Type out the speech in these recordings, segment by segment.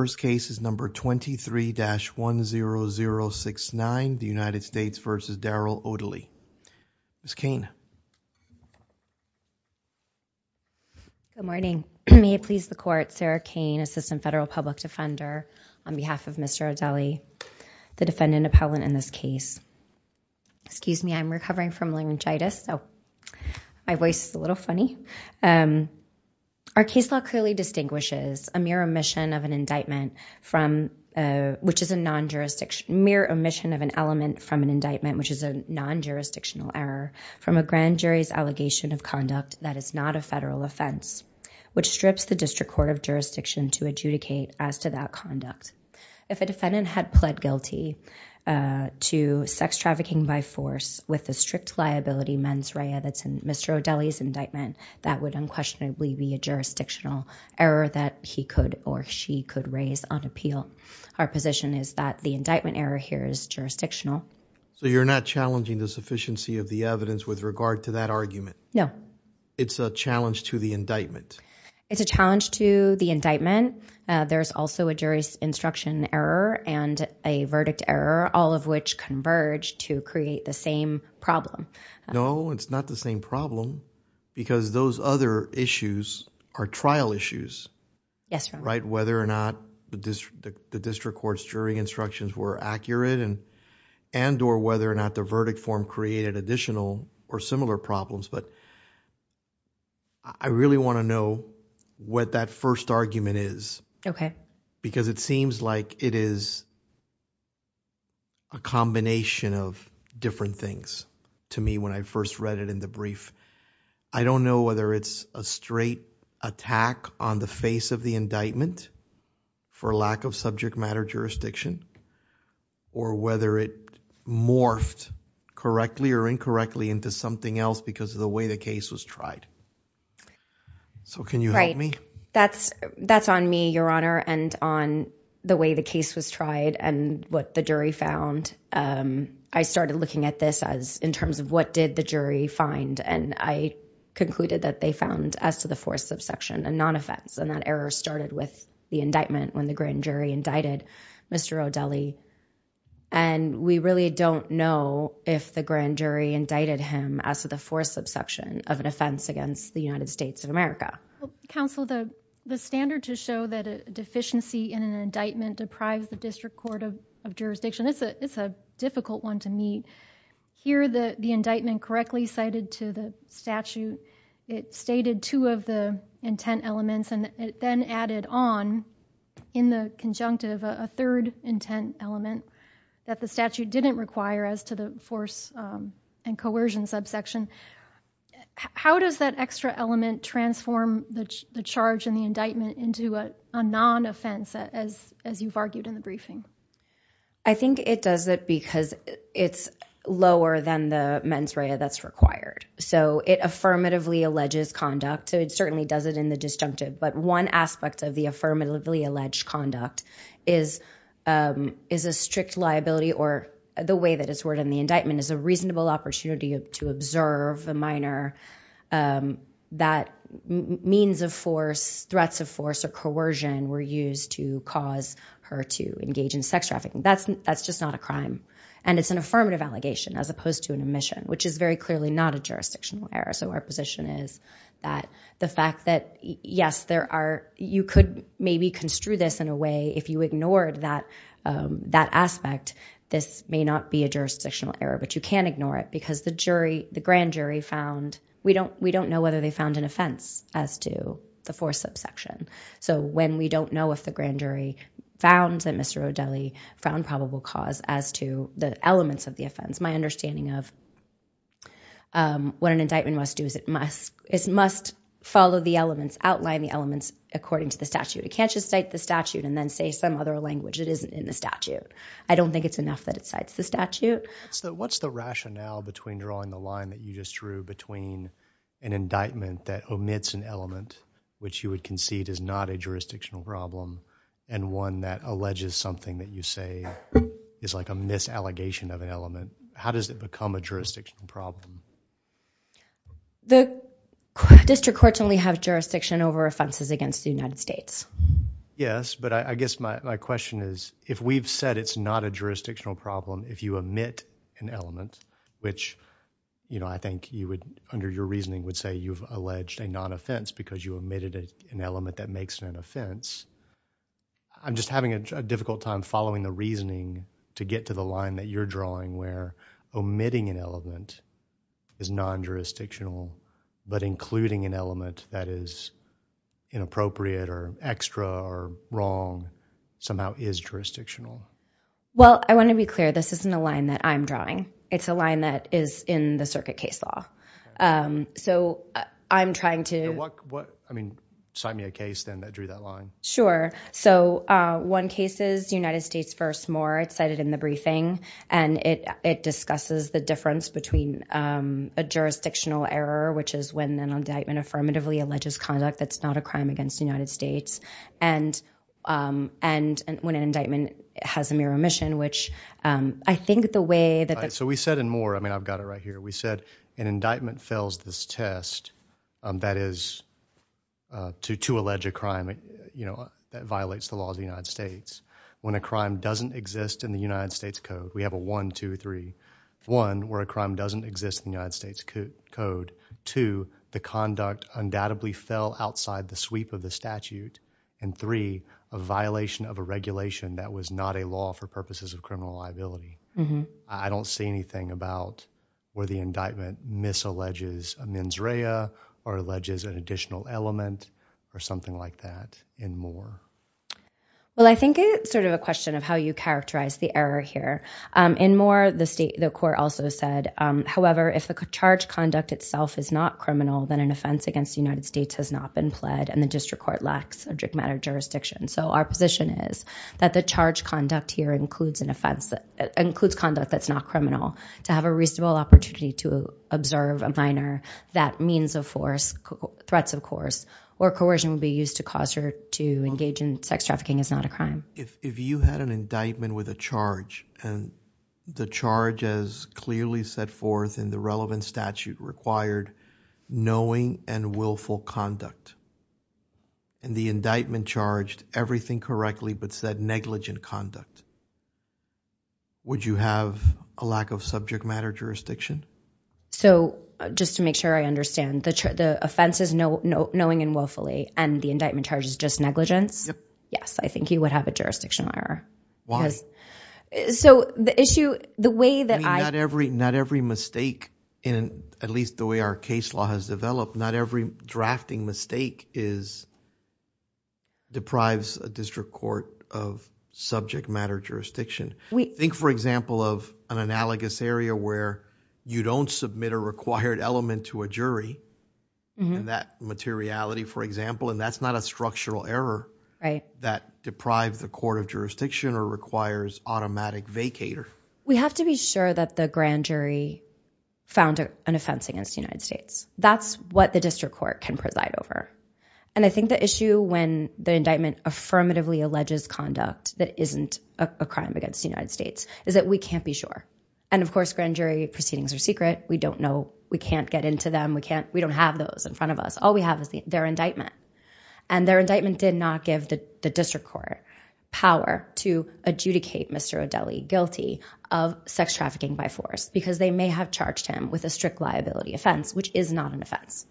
First case is number 23-10069, the United States v. Darryl Odely. Ms. Cain. Good morning. May it please the court, Sarah Cain, Assistant Federal Public Defender, on behalf of Mr. Odely, the defendant appellant in this case. Excuse me, I'm recovering from laryngitis, so my voice is a little funny. Our case law clearly distinguishes a mere omission of an element from an indictment, which is a non-jurisdictional error, from a grand jury's allegation of conduct that is not a federal offense, which strips the District Court of Jurisdiction to adjudicate as to that conduct. If a defendant had pled guilty to sex trafficking by force with the strict liability mens rea that's in Mr. Odely's indictment, that would unquestionably be a jurisdictional error that he could or she could raise on appeal. Our position is that the indictment error here is jurisdictional. So you're not challenging the sufficiency of the evidence with regard to that argument? No. It's a challenge to the indictment? It's a challenge to the indictment. There's also a jury's instruction error and a verdict error, all of which converge to create the same problem. No, it's not the same problem because those other issues are trial issues. Yes, Your Honor. Right? Whether or not the District Court's jury instructions were accurate and or whether or not the verdict form created additional or similar problems. But I really want to know what that first argument is. Okay. Because it seems like it is a combination of different things to me when I first read it in the brief. I don't know whether it's a straight attack on the face of the indictment for lack of subject matter jurisdiction or whether it morphed correctly or incorrectly into something else because of the way the case was tried. So can you help me? That's on me, Your Honor, and on the way the case was tried and what the jury found. I started looking at this as in terms of what did the jury find and I concluded that they found as to the force of section a non-offense and that error started with the indictment when the grand jury indicted Mr. O'Delley. And we really don't know if the grand jury indicted him as to the force of section of an offense against the United States of America. Counsel, the standard to show that a deficiency in an indictment deprives the District Court of Jurisdiction, it's a difficult one to meet. Here the indictment correctly cited to the statute, it stated two of the intent elements and then added on in the conjunctive a third intent element that the statute didn't require as to the force and coercion subsection. How does that extra element transform the charge in the indictment into a non-offense as you've argued in the briefing? I think it does it because it's lower than the mens rea that's required. So it affirmatively alleges conduct, so it certainly does it in the disjunctive, but one aspect of the affirmatively alleged conduct is a strict liability or the way that it's to observe a minor that means of force, threats of force or coercion were used to cause her to engage in sex trafficking. That's just not a crime. And it's an affirmative allegation as opposed to an omission, which is very clearly not a jurisdictional error. So our position is that the fact that yes, there are, you could maybe construe this in a way if you ignored that aspect, this may not be a jurisdictional error, but you can ignore it because the jury, the grand jury found, we don't know whether they found an offense as to the force subsection. So when we don't know if the grand jury found that Mr. O'Delley found probable cause as to the elements of the offense, my understanding of what an indictment must do is it must follow the elements, outline the elements according to the statute. It can't just cite the statute and then say some other language that isn't in the statute. I don't think it's enough that it cites the statute. So what's the rationale between drawing the line that you just drew between an indictment that omits an element, which you would concede is not a jurisdictional problem, and one that alleges something that you say is like a misallegation of an element? How does it become a jurisdictional problem? The district courts only have jurisdiction over offenses against the United States. Yes, but I guess my question is, if we've said it's not a jurisdictional problem, if you omit an element, which I think under your reasoning would say you've alleged a non-offense because you omitted an element that makes it an offense, I'm just having a difficult time following the reasoning to get to the line that you're drawing where omitting an element is non-jurisdictional, but including an element that is inappropriate or extra or wrong somehow is jurisdictional. Well, I want to be clear. This isn't a line that I'm drawing. It's a line that is in the circuit case law. So I'm trying to... I mean, cite me a case then that drew that line. Sure. So one case is United States v. Moore. It's cited in the briefing, and it discusses the difference between a jurisdictional error, which is when an indictment affirmatively alleges conduct that's not a crime against the United States, and when an indictment has a mere omission, which I think the way that... So we said in Moore... I mean, I've got it right here. We said an indictment fails this test, that is, to allege a crime, you know, that violates the law of the United States. When a crime doesn't exist in the United States Code, we have a one, two, three, one, where a crime doesn't exist in the United States Code, two, the conduct undoubtedly fell outside the sweep of the statute, and three, a violation of a regulation that was not a law for purposes of criminal liability. I don't see anything about where the indictment misalleges a mens rea or alleges an additional element or something like that in Moore. Well, I think it's sort of a question of how you characterize the error here. In Moore, the state... The court also said, however, if the charge conduct itself is not criminal, then an offense against the United States has not been pled, and the district court lacks a jurisdiction. So our position is that the charge conduct here includes conduct that's not criminal, to have a reasonable opportunity to observe a minor, that means of force, threats of course, or coercion would be used to cause her to engage in sex trafficking is not a crime. If you had an indictment with a charge, and the charge as clearly set forth in the relevant statute required knowing and willful conduct, and the indictment charged everything correctly but said negligent conduct, would you have a lack of subject matter jurisdiction? So just to make sure I understand, the offense is knowing and willfully, and the indictment charge is just negligence? Yes. I think you would have a jurisdiction error. Why? So the issue, the way that I... Not every mistake, at least the way our case law has developed, not every drafting mistake deprives a district court of subject matter jurisdiction. Think for example of an analogous area where you don't submit a required element to a jury, that materiality for example, and that's not a structural error that deprived the court of jurisdiction or requires automatic vacater. We have to be sure that the grand jury found an offense against the United States. That's what the district court can preside over. And I think the issue when the indictment affirmatively alleges conduct that isn't a crime against the United States is that we can't be sure. And of course, grand jury proceedings are secret. We don't know. We can't get into them. We don't have those in front of us. All we have is their indictment. And their indictment did not give the district court power to adjudicate Mr. O'Delley guilty of sex trafficking by force because they may have charged him with a strict liability offense, which is not an offense.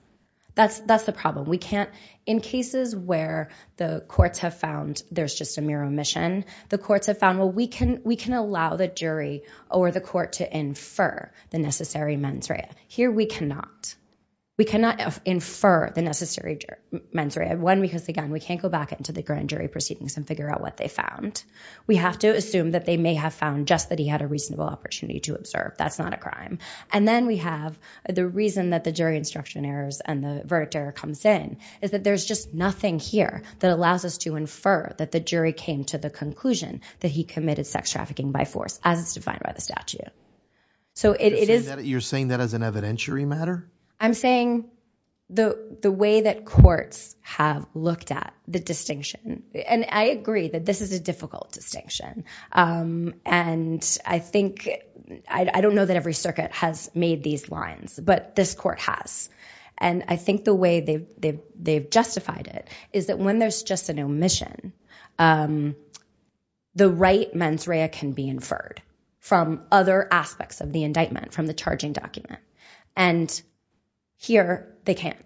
That's the problem. We can't... In cases where the courts have found there's just a mere omission, the courts have found, well, we can allow the jury or the court to infer the necessary mens rea. Here we cannot. We cannot infer the necessary mens rea, one, because again, we can't go back into the grand jury proceedings and figure out what they found. We have to assume that they may have found just that he had a reasonable opportunity to observe. That's not a crime. And then we have the reason that the jury instruction errors and the verdict error comes in is that there's just nothing here that allows us to infer that the jury came to the conclusion that he committed sex trafficking by force as it's defined by the statute. So it is... Are you saying that as an evidentiary matter? I'm saying the way that courts have looked at the distinction, and I agree that this is a difficult distinction. And I think, I don't know that every circuit has made these lines, but this court has. And I think the way they've justified it is that when there's just an omission, the right mens rea can be inferred from other aspects of the indictment, from the charging document. And here they can't,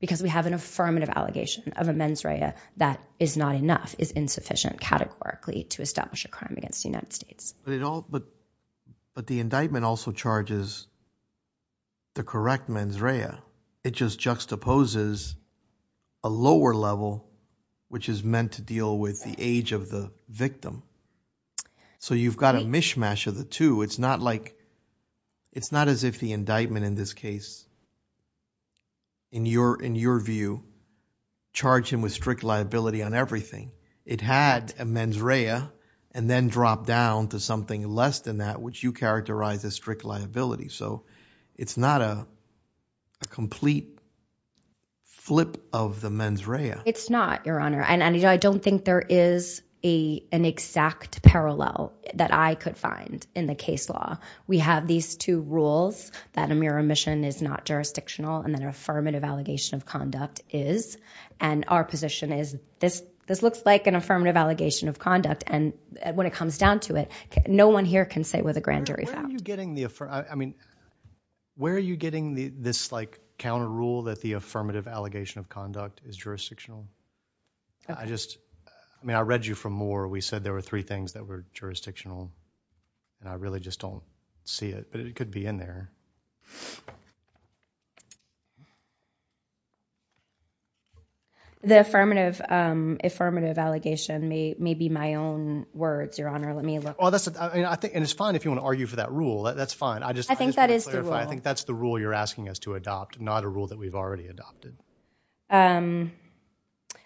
because we have an affirmative allegation of a mens rea that is not enough, is insufficient categorically to establish a crime against the United States. But the indictment also charges the correct mens rea. But it just juxtaposes a lower level, which is meant to deal with the age of the victim. So you've got a mishmash of the two. It's not like, it's not as if the indictment in this case, in your view, charged him with strict liability on everything. It had a mens rea and then dropped down to something less than that, which you characterize as strict liability. So it's not a complete flip of the mens rea. It's not, Your Honor. And I don't think there is an exact parallel that I could find in the case law. We have these two rules, that a mere omission is not jurisdictional, and that an affirmative allegation of conduct is. And our position is, this looks like an affirmative allegation of conduct. And when it comes down to it, no one here can say we're the grand jury. Where are you getting the, I mean, where are you getting this counter rule that the affirmative allegation of conduct is jurisdictional? I just, I mean, I read you from Moore. We said there were three things that were jurisdictional, and I really just don't see it. But it could be in there. The affirmative allegation may be my own words, Your Honor. Let me look. Well, that's, I think, and it's fine if you want to argue for that rule. That's fine. I just want to clarify. I think that's the rule you're asking us to adopt, not a rule that we've already adopted.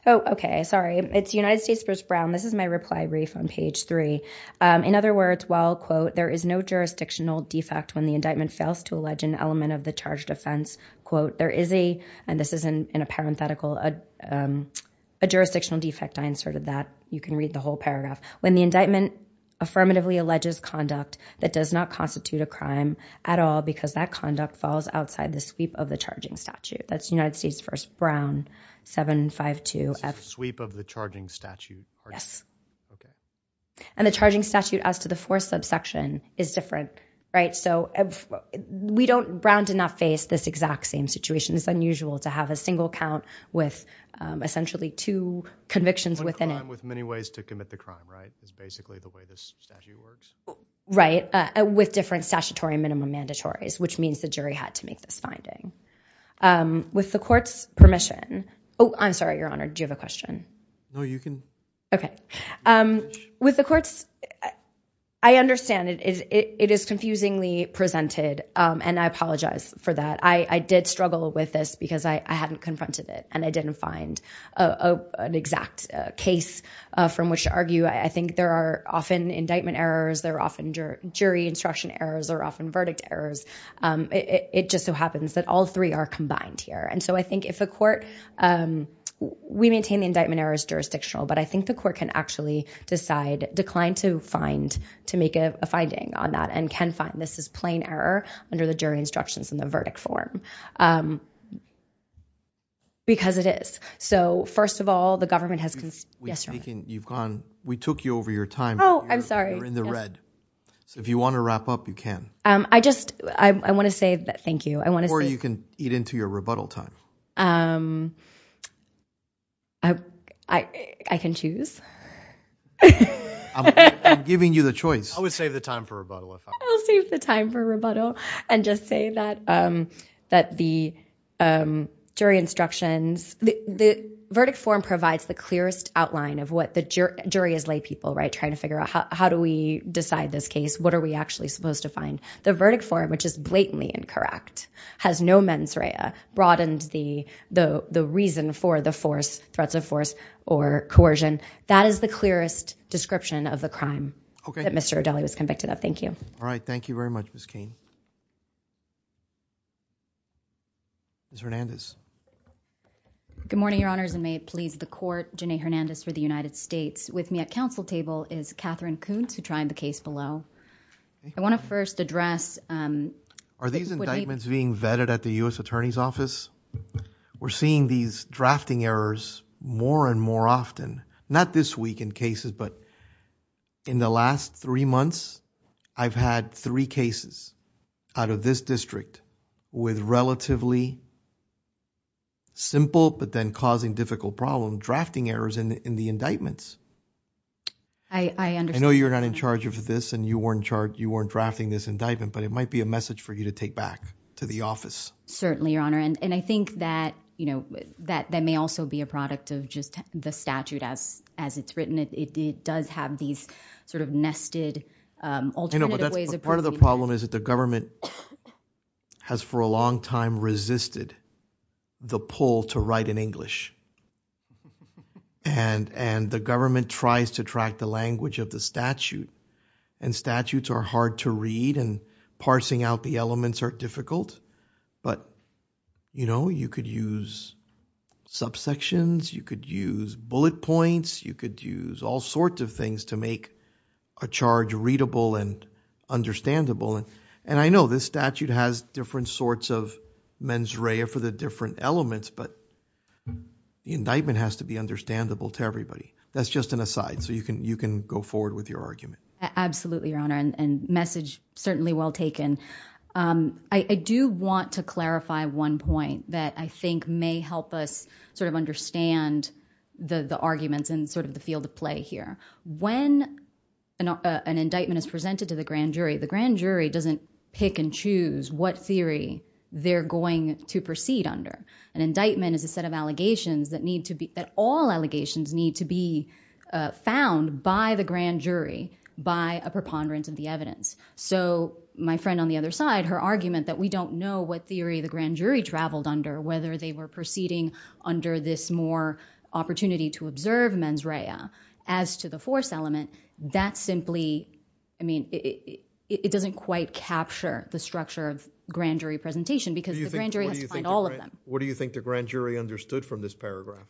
Oh, OK, sorry. It's United States v. Brown. This is my reply brief on page three. In other words, while, quote, there is no jurisdictional defect when the indictment fails to allege an element of the charged offense, quote, there is a, and this is in a parenthetical, a jurisdictional defect. I inserted that. You can read the whole paragraph. When the indictment affirmatively alleges conduct that does not constitute a crime at all because that conduct falls outside the sweep of the charging statute. That's United States v. Brown, 752F- This is a sweep of the charging statute? Yes. OK. And the charging statute as to the fourth subsection is different, right? So we don't, Brown did not face this exact same situation. It's unusual to have a single count with essentially two convictions within it. And with many ways to commit the crime, right, is basically the way this statute works? Right. With different statutory minimum mandatories, which means the jury had to make this finding. With the court's permission, oh, I'm sorry, Your Honor, do you have a question? No, you can. OK. With the court's, I understand it is confusingly presented, and I apologize for that. But I did struggle with this because I hadn't confronted it and I didn't find an exact case from which to argue. I think there are often indictment errors, there are often jury instruction errors, there are often verdict errors. It just so happens that all three are combined here. And so I think if a court, we maintain the indictment error is jurisdictional, but I think the court can actually decide, decline to find, to make a finding on that and can say, OK, fine, this is plain error under the jury instructions in the verdict form. Because it is. So first of all, the government has, yes, Your Honor? We took you over your time. Oh, I'm sorry. You're in the red. Yes. So if you want to wrap up, you can. I just, I want to say thank you. I want to say. Or you can eat into your rebuttal time. I can choose. I'm giving you the choice. I would save the time for rebuttal, I thought. I'll save the time for rebuttal. I'll save the time for rebuttal and just say that the jury instructions, the verdict form provides the clearest outline of what the jury, jury as laypeople, right, trying to figure out how do we decide this case? What are we actually supposed to find? The verdict form, which is blatantly incorrect, has no mens rea, broadened the reason for the force, threats of force or coercion. That is the clearest description of the crime that Mr. O'Dellie was convicted of. Thank you. All right. Thank you very much, Ms. Cain. Ms. Hernandez. Good morning, Your Honors, and may it please the Court, Jenea Hernandez for the United States. With me at council table is Catherine Kuntz, who tried the case below. I want to first address... Are these indictments being vetted at the U.S. Attorney's Office? We're seeing these drafting errors more and more often, not this week in cases, but in the last three months, I've had three cases out of this district with relatively simple but then causing difficult problem, drafting errors in the indictments. I understand... I know you're not in charge of this and you weren't in charge, you weren't drafting this indictment, but it might be a message for you to take back to the office. Certainly, Your Honor, and I think that, you know, that may also be a product of just the statute as it's written. It does have these sort of nested alternative ways of... You know, but that's part of the problem is that the government has for a long time resisted the pull to write in English. And the government tries to track the language of the statute, and statutes are hard to read and parsing out the elements are difficult, but, you know, you could use subsections, you could use bullet points, you could use all sorts of things to make a charge readable and understandable. And I know this statute has different sorts of mens rea for the different elements, but the indictment has to be understandable to everybody. That's just an aside, so you can go forward with your argument. Absolutely, Your Honor, and message certainly well taken. I do want to clarify one point that I think may help us sort of understand the arguments and sort of the field of play here. When an indictment is presented to the grand jury, the grand jury doesn't pick and choose what theory they're going to proceed under. An indictment is a set of allegations that need to be... that all allegations need to be found by the grand jury by a preponderance of the evidence. So my friend on the other side, her argument that we don't know what theory the grand jury traveled under, whether they were proceeding under this more opportunity to observe mens rea as to the force element, that simply... I mean, it doesn't quite capture the structure of grand jury presentation because the grand jury has to find all of them. What do you think the grand jury understood from this paragraph?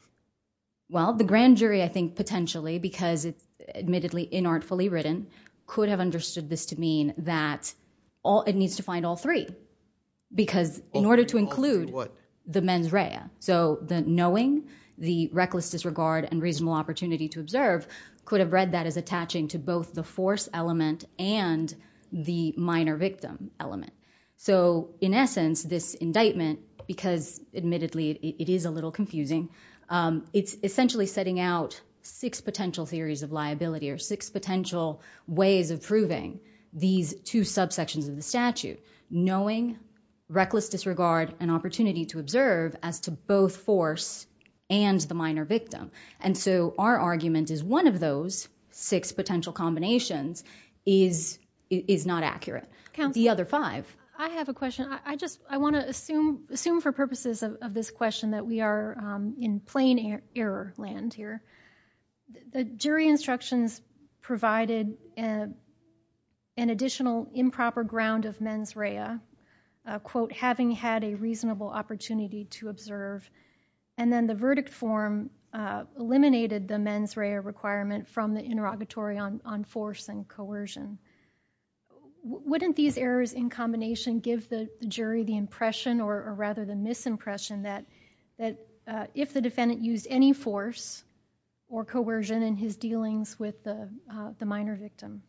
Well, the grand jury, I think, potentially, because it's admittedly inartfully written, could have understood this to mean that it needs to find all three because in order to include the mens rea, so the knowing, the reckless disregard, and reasonable opportunity to observe could have read that as attaching to both the force element and the minor victim element. So in essence, this indictment, because admittedly it is a little confusing, it's essentially setting out six potential theories of liability or six potential ways of proving these two subsections of the statute, knowing, reckless disregard, and opportunity to observe as to both force and the minor victim. And so our argument is one of those six potential combinations is not accurate. The other five... Counsel, I have a question. I want to assume for purposes of this question that we are in plain error land here. The jury instructions provided an additional improper ground of mens rea, quote, having had a reasonable opportunity to observe, and then the verdict form eliminated the mens rea requirement from the interrogatory on force and coercion. Wouldn't these errors in combination give the jury the impression or rather the misimpression that if the defendant used any force or coercion in his dealings with the minor victim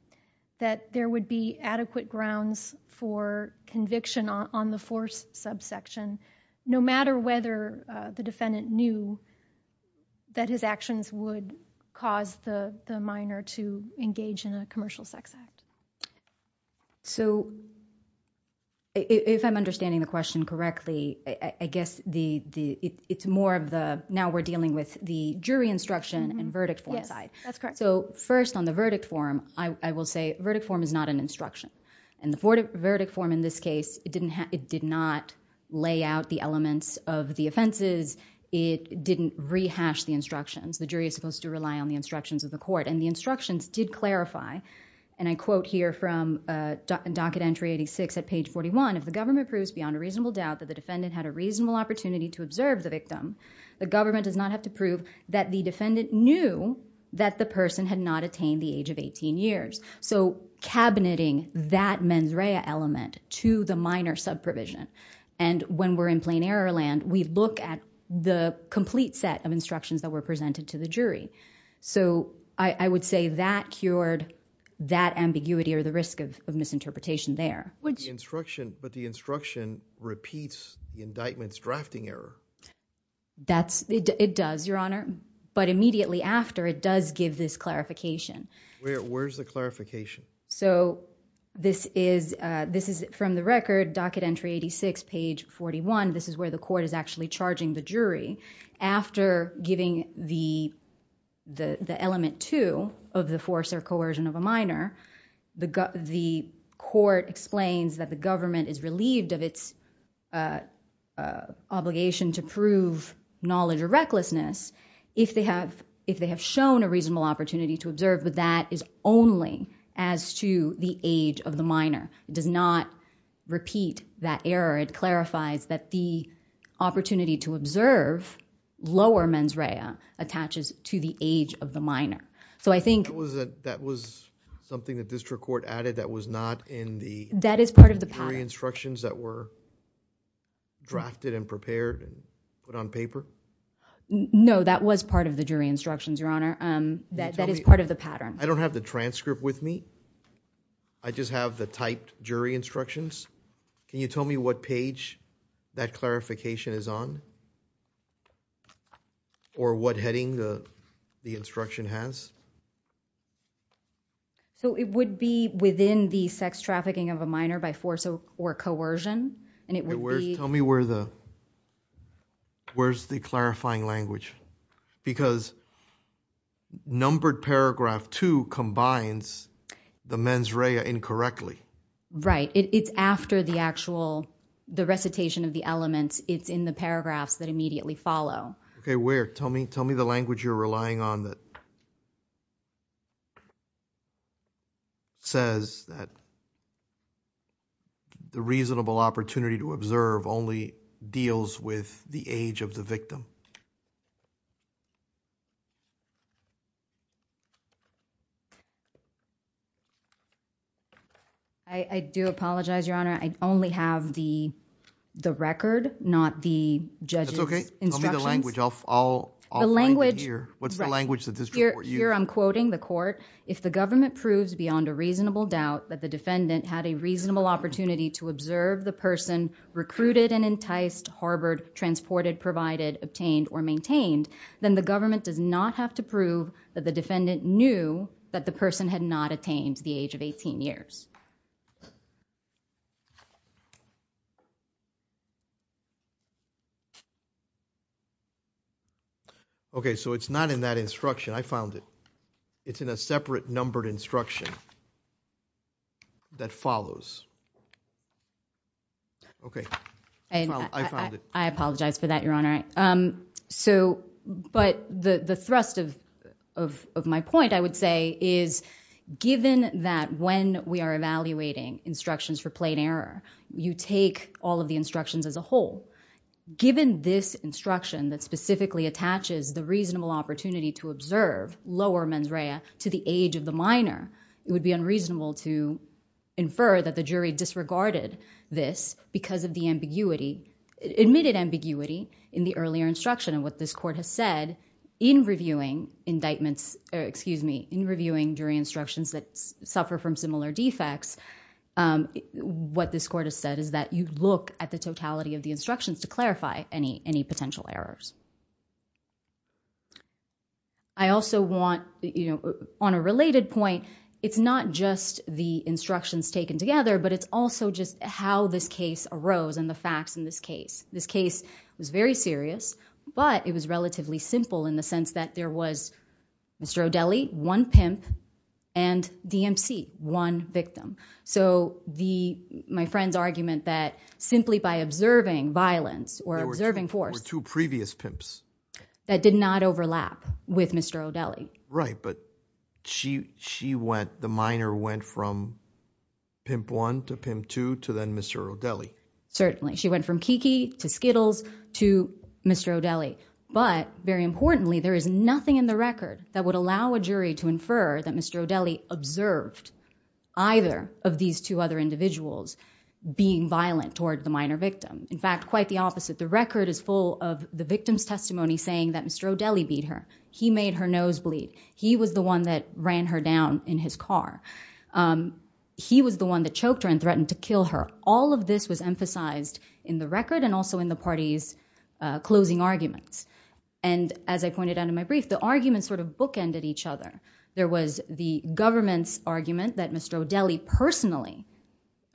that there would be adequate grounds for conviction on the force subsection no matter whether the defendant knew that his actions would cause the minor to engage in a commercial sex act? So, if I'm understanding the question correctly, I guess it's more of the... now we're dealing with the jury instruction and verdict form side. So first on the verdict form, I will say verdict form is not an instruction. In the verdict form in this case, it did not lay out the elements of the offenses. It didn't rehash the instructions. The jury is supposed to rely on the instructions of the court, and the instructions did clarify, and I quote here from docket entry 86 at page 41, if the government proves beyond a reasonable doubt that the defendant had a reasonable opportunity to observe the victim, the government does not have to prove that the defendant knew that the person had not attained the age of eighteen years. So, cabineting that mens rea element to the minor subprovision, and when we're in plain error land, we look at the complete set of instructions that were presented to the jury. So I would say that cured that ambiguity or the risk of misinterpretation there. But the instruction repeats the indictment's drafting error. It does, Your Honor, but immediately after it does give this clarification. Where's the clarification? So this is from the record, docket entry 86, page 41, this is where the court is actually charging the jury. After giving the element two of the force or coercion of a minor, the court explains that the government is relieved of its obligation to prove knowledge or recklessness if they have shown a reasonable opportunity to observe, but that is only as to the age of the minor. It does not repeat that error. It clarifies that the opportunity to observe lower mens rea attaches to the age of the So I think... That was something the district court added that was not in the... That is part of the pattern.... jury instructions that were drafted and prepared and put on paper? No, that was part of the jury instructions. That is part of the pattern. I don't have the transcript with me. I just have the typed jury instructions. Can you tell me what page that clarification is on? Or what heading the instruction has? So it would be within the sex trafficking of a minor by force or coercion, and it would be... Tell me where's the clarifying language? Because numbered paragraph two combines the mens rea incorrectly. Right. It's after the actual... the recitation of the elements, it's in the paragraphs that immediately follow. Okay, where? Tell me the language you're relying on that says that the reasonable opportunity to observe only deals with the age of the victim. I do apologize, Your Honor. I only have the record, not the judge's instructions. Tell me the language. I'll find it here. What's the language that the district court used? Right. Here I'm quoting the court. If the government proves beyond a reasonable doubt that the defendant had a reasonable opportunity to observe the person recruited and enticed, harbored, transported, provided, obtained, or maintained, then the government does not have to prove that the defendant knew that the person had not attained the age of 18 years. Okay, so it's not in that instruction. I found it. It's in a separate numbered instruction that follows. Okay, I found it. I apologize for that, Your Honor. But the thrust of my point, I would say, is given that when we are evaluating instructions for plain error, you take all of the instructions as a whole, given this instruction that specifically attaches the reasonable opportunity to observe, lower mens rea, to the age of the minor, it would be unreasonable to infer that the jury disregarded this because of the ambiguity, admitted ambiguity, in the earlier instruction. And what this court has said in reviewing indictments, excuse me, in reviewing jury instructions that suffer from similar defects, what this court has said is that you look at the totality of the instructions to clarify any potential errors. I also want, you know, on a related point, it's not just the instructions taken together, but it's also just how this case arose and the facts in this case. This case was very serious, but it was relatively simple in the sense that there was Mr. O'Delley, one pimp, and DMC, one victim. So the, my friend's argument that simply by observing violence or observing force- There were two previous pimps. That did not overlap with Mr. O'Delley. Right, but she went, the minor went from pimp one to pimp two to then Mr. O'Delley. She went from Kiki to Skittles to Mr. O'Delley. But very importantly, there is nothing in the record that would allow a jury to infer that Mr. O'Delley observed either of these two other individuals being violent toward the minor victim. In fact, quite the opposite. The record is full of the victim's testimony saying that Mr. O'Delley beat her. He made her nose bleed. He was the one that ran her down in his car. He was the one that choked her and threatened to kill her. All of this was emphasized in the record and also in the party's closing arguments. And as I pointed out in my brief, the arguments sort of bookended each other. There was the government's argument that Mr. O'Delley personally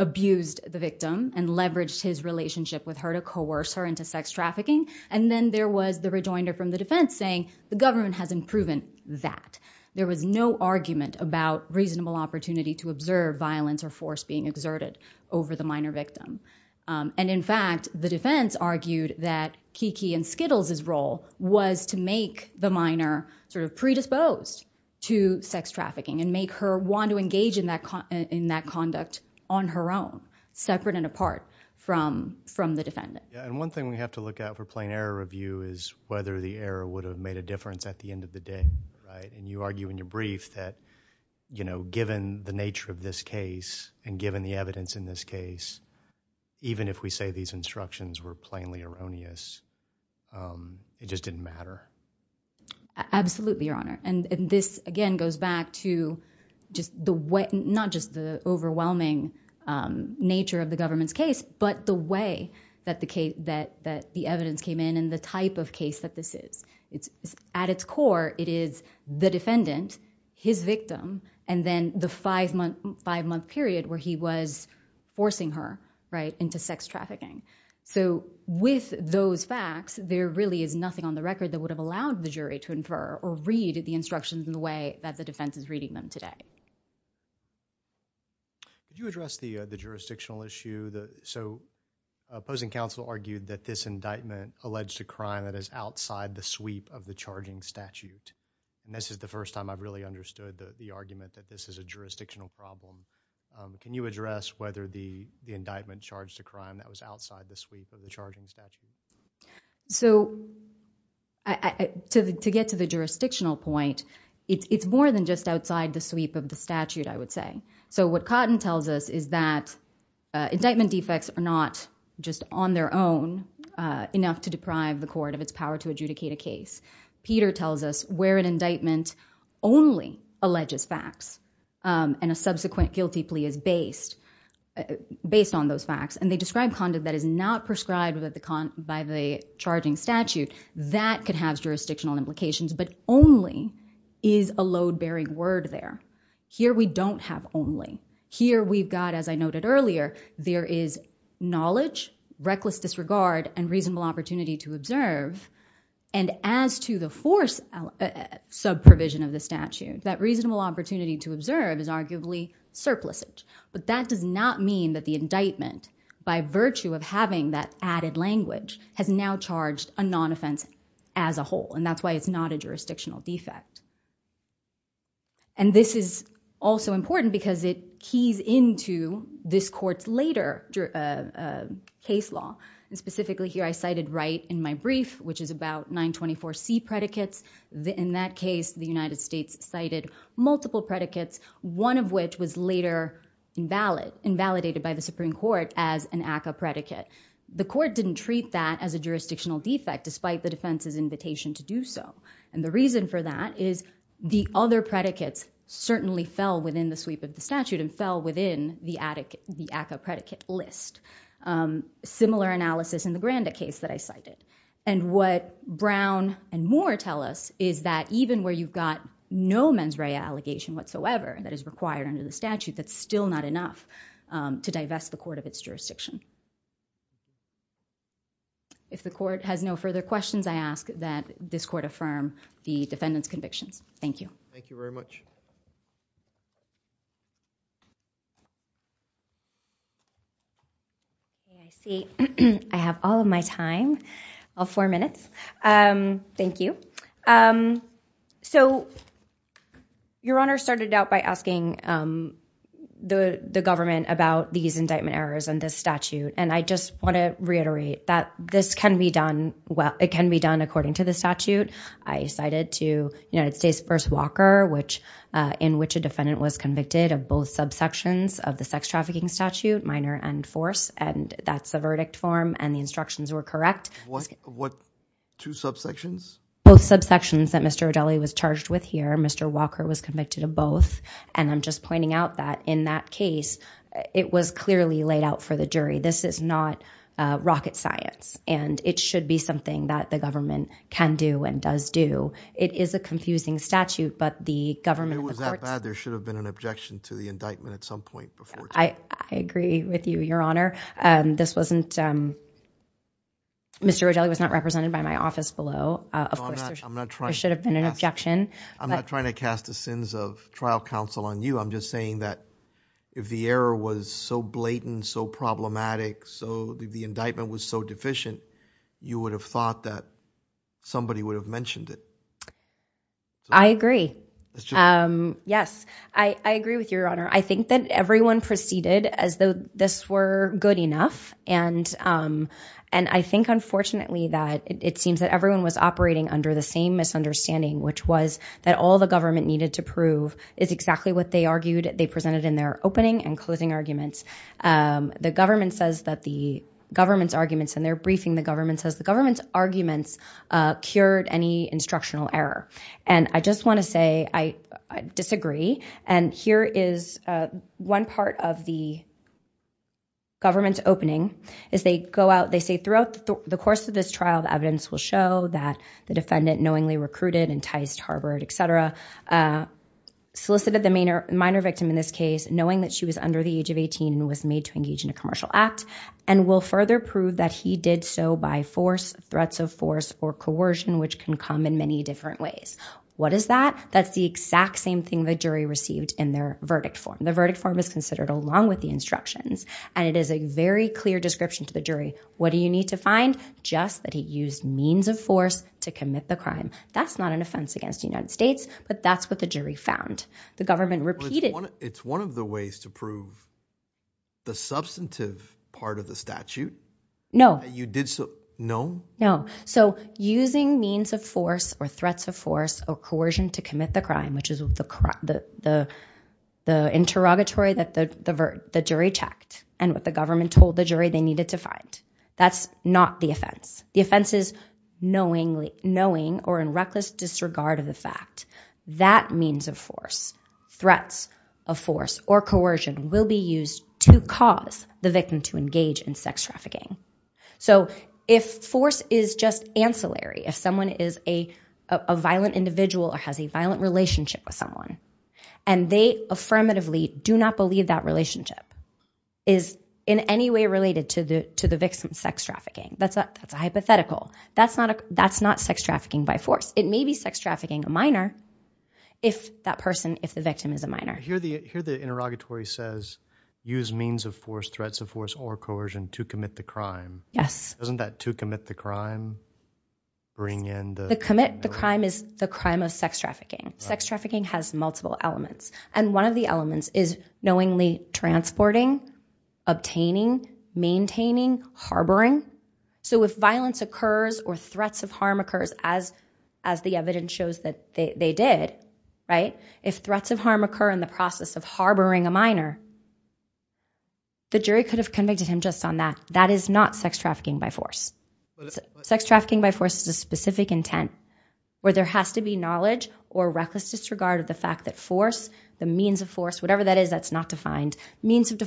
abused the victim and leveraged his relationship with her to coerce her into sex trafficking. And then there was the rejoinder from the defense saying the government hasn't proven that. There was no argument about reasonable opportunity to observe violence or force being exerted over the minor victim. And in fact, the defense argued that Kiki and Skittles' role was to make the minor sort of predisposed to sex trafficking and make her want to engage in that conduct on her own, separate and apart from the defendant. One thing we have to look at for plain error review is whether the error would have made a difference at the end of the day. You argue in your brief that, you know, given the nature of this case and given the evidence in this case, even if we say these instructions were plainly erroneous, it just didn't matter. Absolutely, Your Honor. And this, again, goes back to not just the overwhelming nature of the government's case, but the way that the evidence came in and the type of case that this is. At its core, it is the defendant, his victim, and then the five-month period where he was forcing her into sex trafficking. So with those facts, there really is nothing on the record that would have allowed the jury to infer or read the instructions in the way that the defense is reading them today. Could you address the jurisdictional issue? So opposing counsel argued that this indictment alleged a crime that is outside the sweep of the charging statute. This is the first time I've really understood the argument that this is a jurisdictional problem. Can you address whether the indictment charged a crime that was outside the sweep of the charging statute? So to get to the jurisdictional point, it's more than just outside the sweep of the statute, I would say. So what Cotton tells us is that indictment defects are not just on their own enough to deprive the court of its power to adjudicate a case. Peter tells us where an indictment only alleges facts and a subsequent guilty plea is based on those facts. And they describe conduct that is not prescribed by the charging statute. That could have jurisdictional implications. But only is a load-bearing word there. Here we don't have only. Here we've got, as I noted earlier, there is knowledge, reckless disregard, and reasonable opportunity to observe. And as to the force sub-provision of the statute, that reasonable opportunity to observe is arguably surplicit. But that does not mean that the indictment, by virtue of having that added language, has now charged a non-offense as a whole. And that's why it's not a jurisdictional defect. And this is also important because it keys into this court's later case law. Specifically, here I cited right in my brief, which is about 924C predicates. In that case, the United States cited multiple predicates, one of which was later invalidated by the Supreme Court as an ACCA predicate. The court didn't treat that as a jurisdictional defect, despite the defense's invitation to do so. And the reason for that is the other predicates certainly fell within the sweep of the statute and fell within the ACCA predicate list. Similar analysis in the Granda case that I cited. And what Brown and Moore tell us is that even where you've got no mens rea allegation whatsoever that is required under the statute, that's still not enough to divest the court of its jurisdiction. If the court has no further questions, I ask that this court affirm the defendant's convictions. Thank you. Thank you very much. I see I have all of my time, all four minutes. Thank you. So your Honor started out by asking the government about these indictment errors and this statute. And I just want to reiterate that this can be done, well, it can be done according to the statute. I cited to United States v. Walker, in which a defendant was convicted of both subsections of the sex trafficking statute, minor and force. And that's the verdict form and the instructions were correct. What two subsections? Both subsections that Mr. O'Dellie was charged with here, Mr. Walker was convicted of both. And I'm just pointing out that in that case, it was clearly laid out for the jury. This is not rocket science. And it should be something that the government can do and does do. It is a confusing statute, but the government, there should have been an objection to the indictment at some point before. I agree with you, Your Honor. This wasn't Mr. O'Dellie was not represented by my office below. Of course, there should have been an objection. I'm not trying to cast the sins of trial counsel on you. I'm just saying that if the error was so blatant, so problematic, so the indictment was so deficient, you would have thought that somebody would have mentioned it. I agree. Yes, I agree with you, Your Honor. I think that everyone proceeded as though this were good enough. And I think, unfortunately, that it seems that everyone was operating under the same misunderstanding, which was that all the government needed to prove is exactly what they argued they presented in their opening and closing arguments. The government says that the government's arguments and they're briefing the government says the government's arguments cured any instructional error. And I just want to say I disagree. And here is one part of the government's opening is they go out, they say throughout the course of this trial, the evidence will show that the defendant knowingly recruited, enticed, harbored, et cetera, solicited the minor victim in this case, knowing that she was under the was made to engage in a commercial act and will further prove that he did so by force, threats of force or coercion, which can come in many different ways. What is that? That's the exact same thing the jury received in their verdict form. The verdict form is considered along with the instructions. And it is a very clear description to the jury. What do you need to find? Just that he used means of force to commit the crime. That's not an offense against the United States, but that's what the jury found. The government repeated. It's one of the ways to prove the substantive part of the statute. No, you did. No, no. So using means of force or threats of force or coercion to commit the crime, which is the interrogatory that the jury checked and what the government told the jury they needed to find. That's not the offense. The offense is knowingly knowing or in reckless disregard of the fact that means of force threats of force or coercion will be used to cause the victim to engage in sex trafficking. So if force is just ancillary, if someone is a violent individual or has a violent relationship with someone and they affirmatively do not believe that relationship is in any way related to the victim's sex trafficking, that's a hypothetical. That's not sex trafficking by force. It may be sex trafficking a minor if that person, if the victim is a minor. I hear the interrogatory says use means of force, threats of force or coercion to commit the crime. Yes. Doesn't that to commit the crime bring in the- The commit the crime is the crime of sex trafficking. Sex trafficking has multiple elements. And one of the elements is knowingly transporting, obtaining, maintaining, harboring. So if violence occurs or threats of harm occurs as the evidence shows that they did, if threats of harm occur in the process of harboring a minor, the jury could have convicted him just on that. That is not sex trafficking by force. Sex trafficking by force is a specific intent where there has to be knowledge or reckless disregard of the fact that force, the means of force, whatever that is, that's not defined. Means of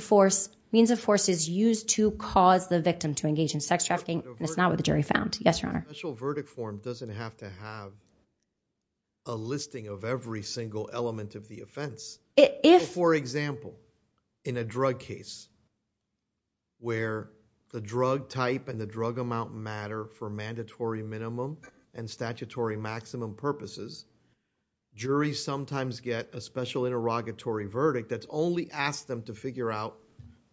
force is used to cause the victim to engage in sex trafficking. It's not what the jury found. Yes, your honor. Special verdict form doesn't have to have a listing of every single element of the offense. For example, in a drug case where the drug type and the drug amount matter for mandatory minimum and statutory maximum purposes, jury sometimes get a special interrogatory verdict that's only asked them to figure out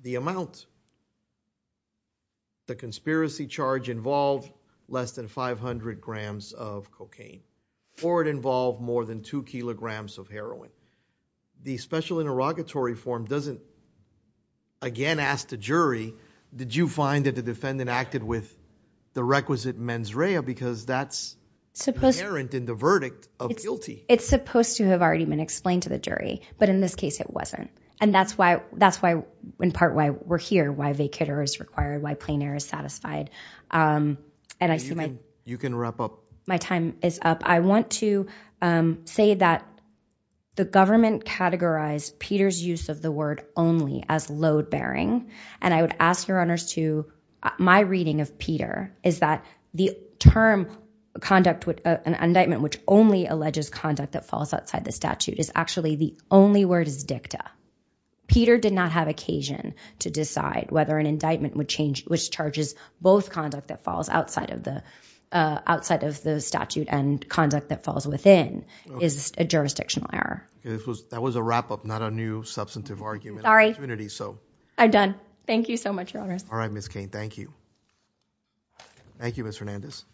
the amount. The conspiracy charge involved less than 500 grams of cocaine. Or it involved more than two kilograms of heroin. The special interrogatory form doesn't again ask the jury, did you find that the defendant acted with the requisite mens rea because that's inherent in the verdict of guilty. It's supposed to have already been explained to the jury. But in this case, it wasn't. And that's why in part why we're here, why vacator is required, why plainer is satisfied. And I see my time is up. I want to say that the government categorized Peter's use of the word only as load bearing. And I would ask your honors to, my reading of Peter is that the term conduct with an indictment, which only alleges conduct that falls outside the statute is the only word is dicta. Peter did not have occasion to decide whether an indictment would change, which charges both conduct that falls outside of the statute and conduct that falls within is a jurisdictional error. That was a wrap up, not a new substantive argument. I'm done. Thank you so much, your honors. All right, Ms. Kane. Thank you. Thank you, Ms. Hernandez. Thank you.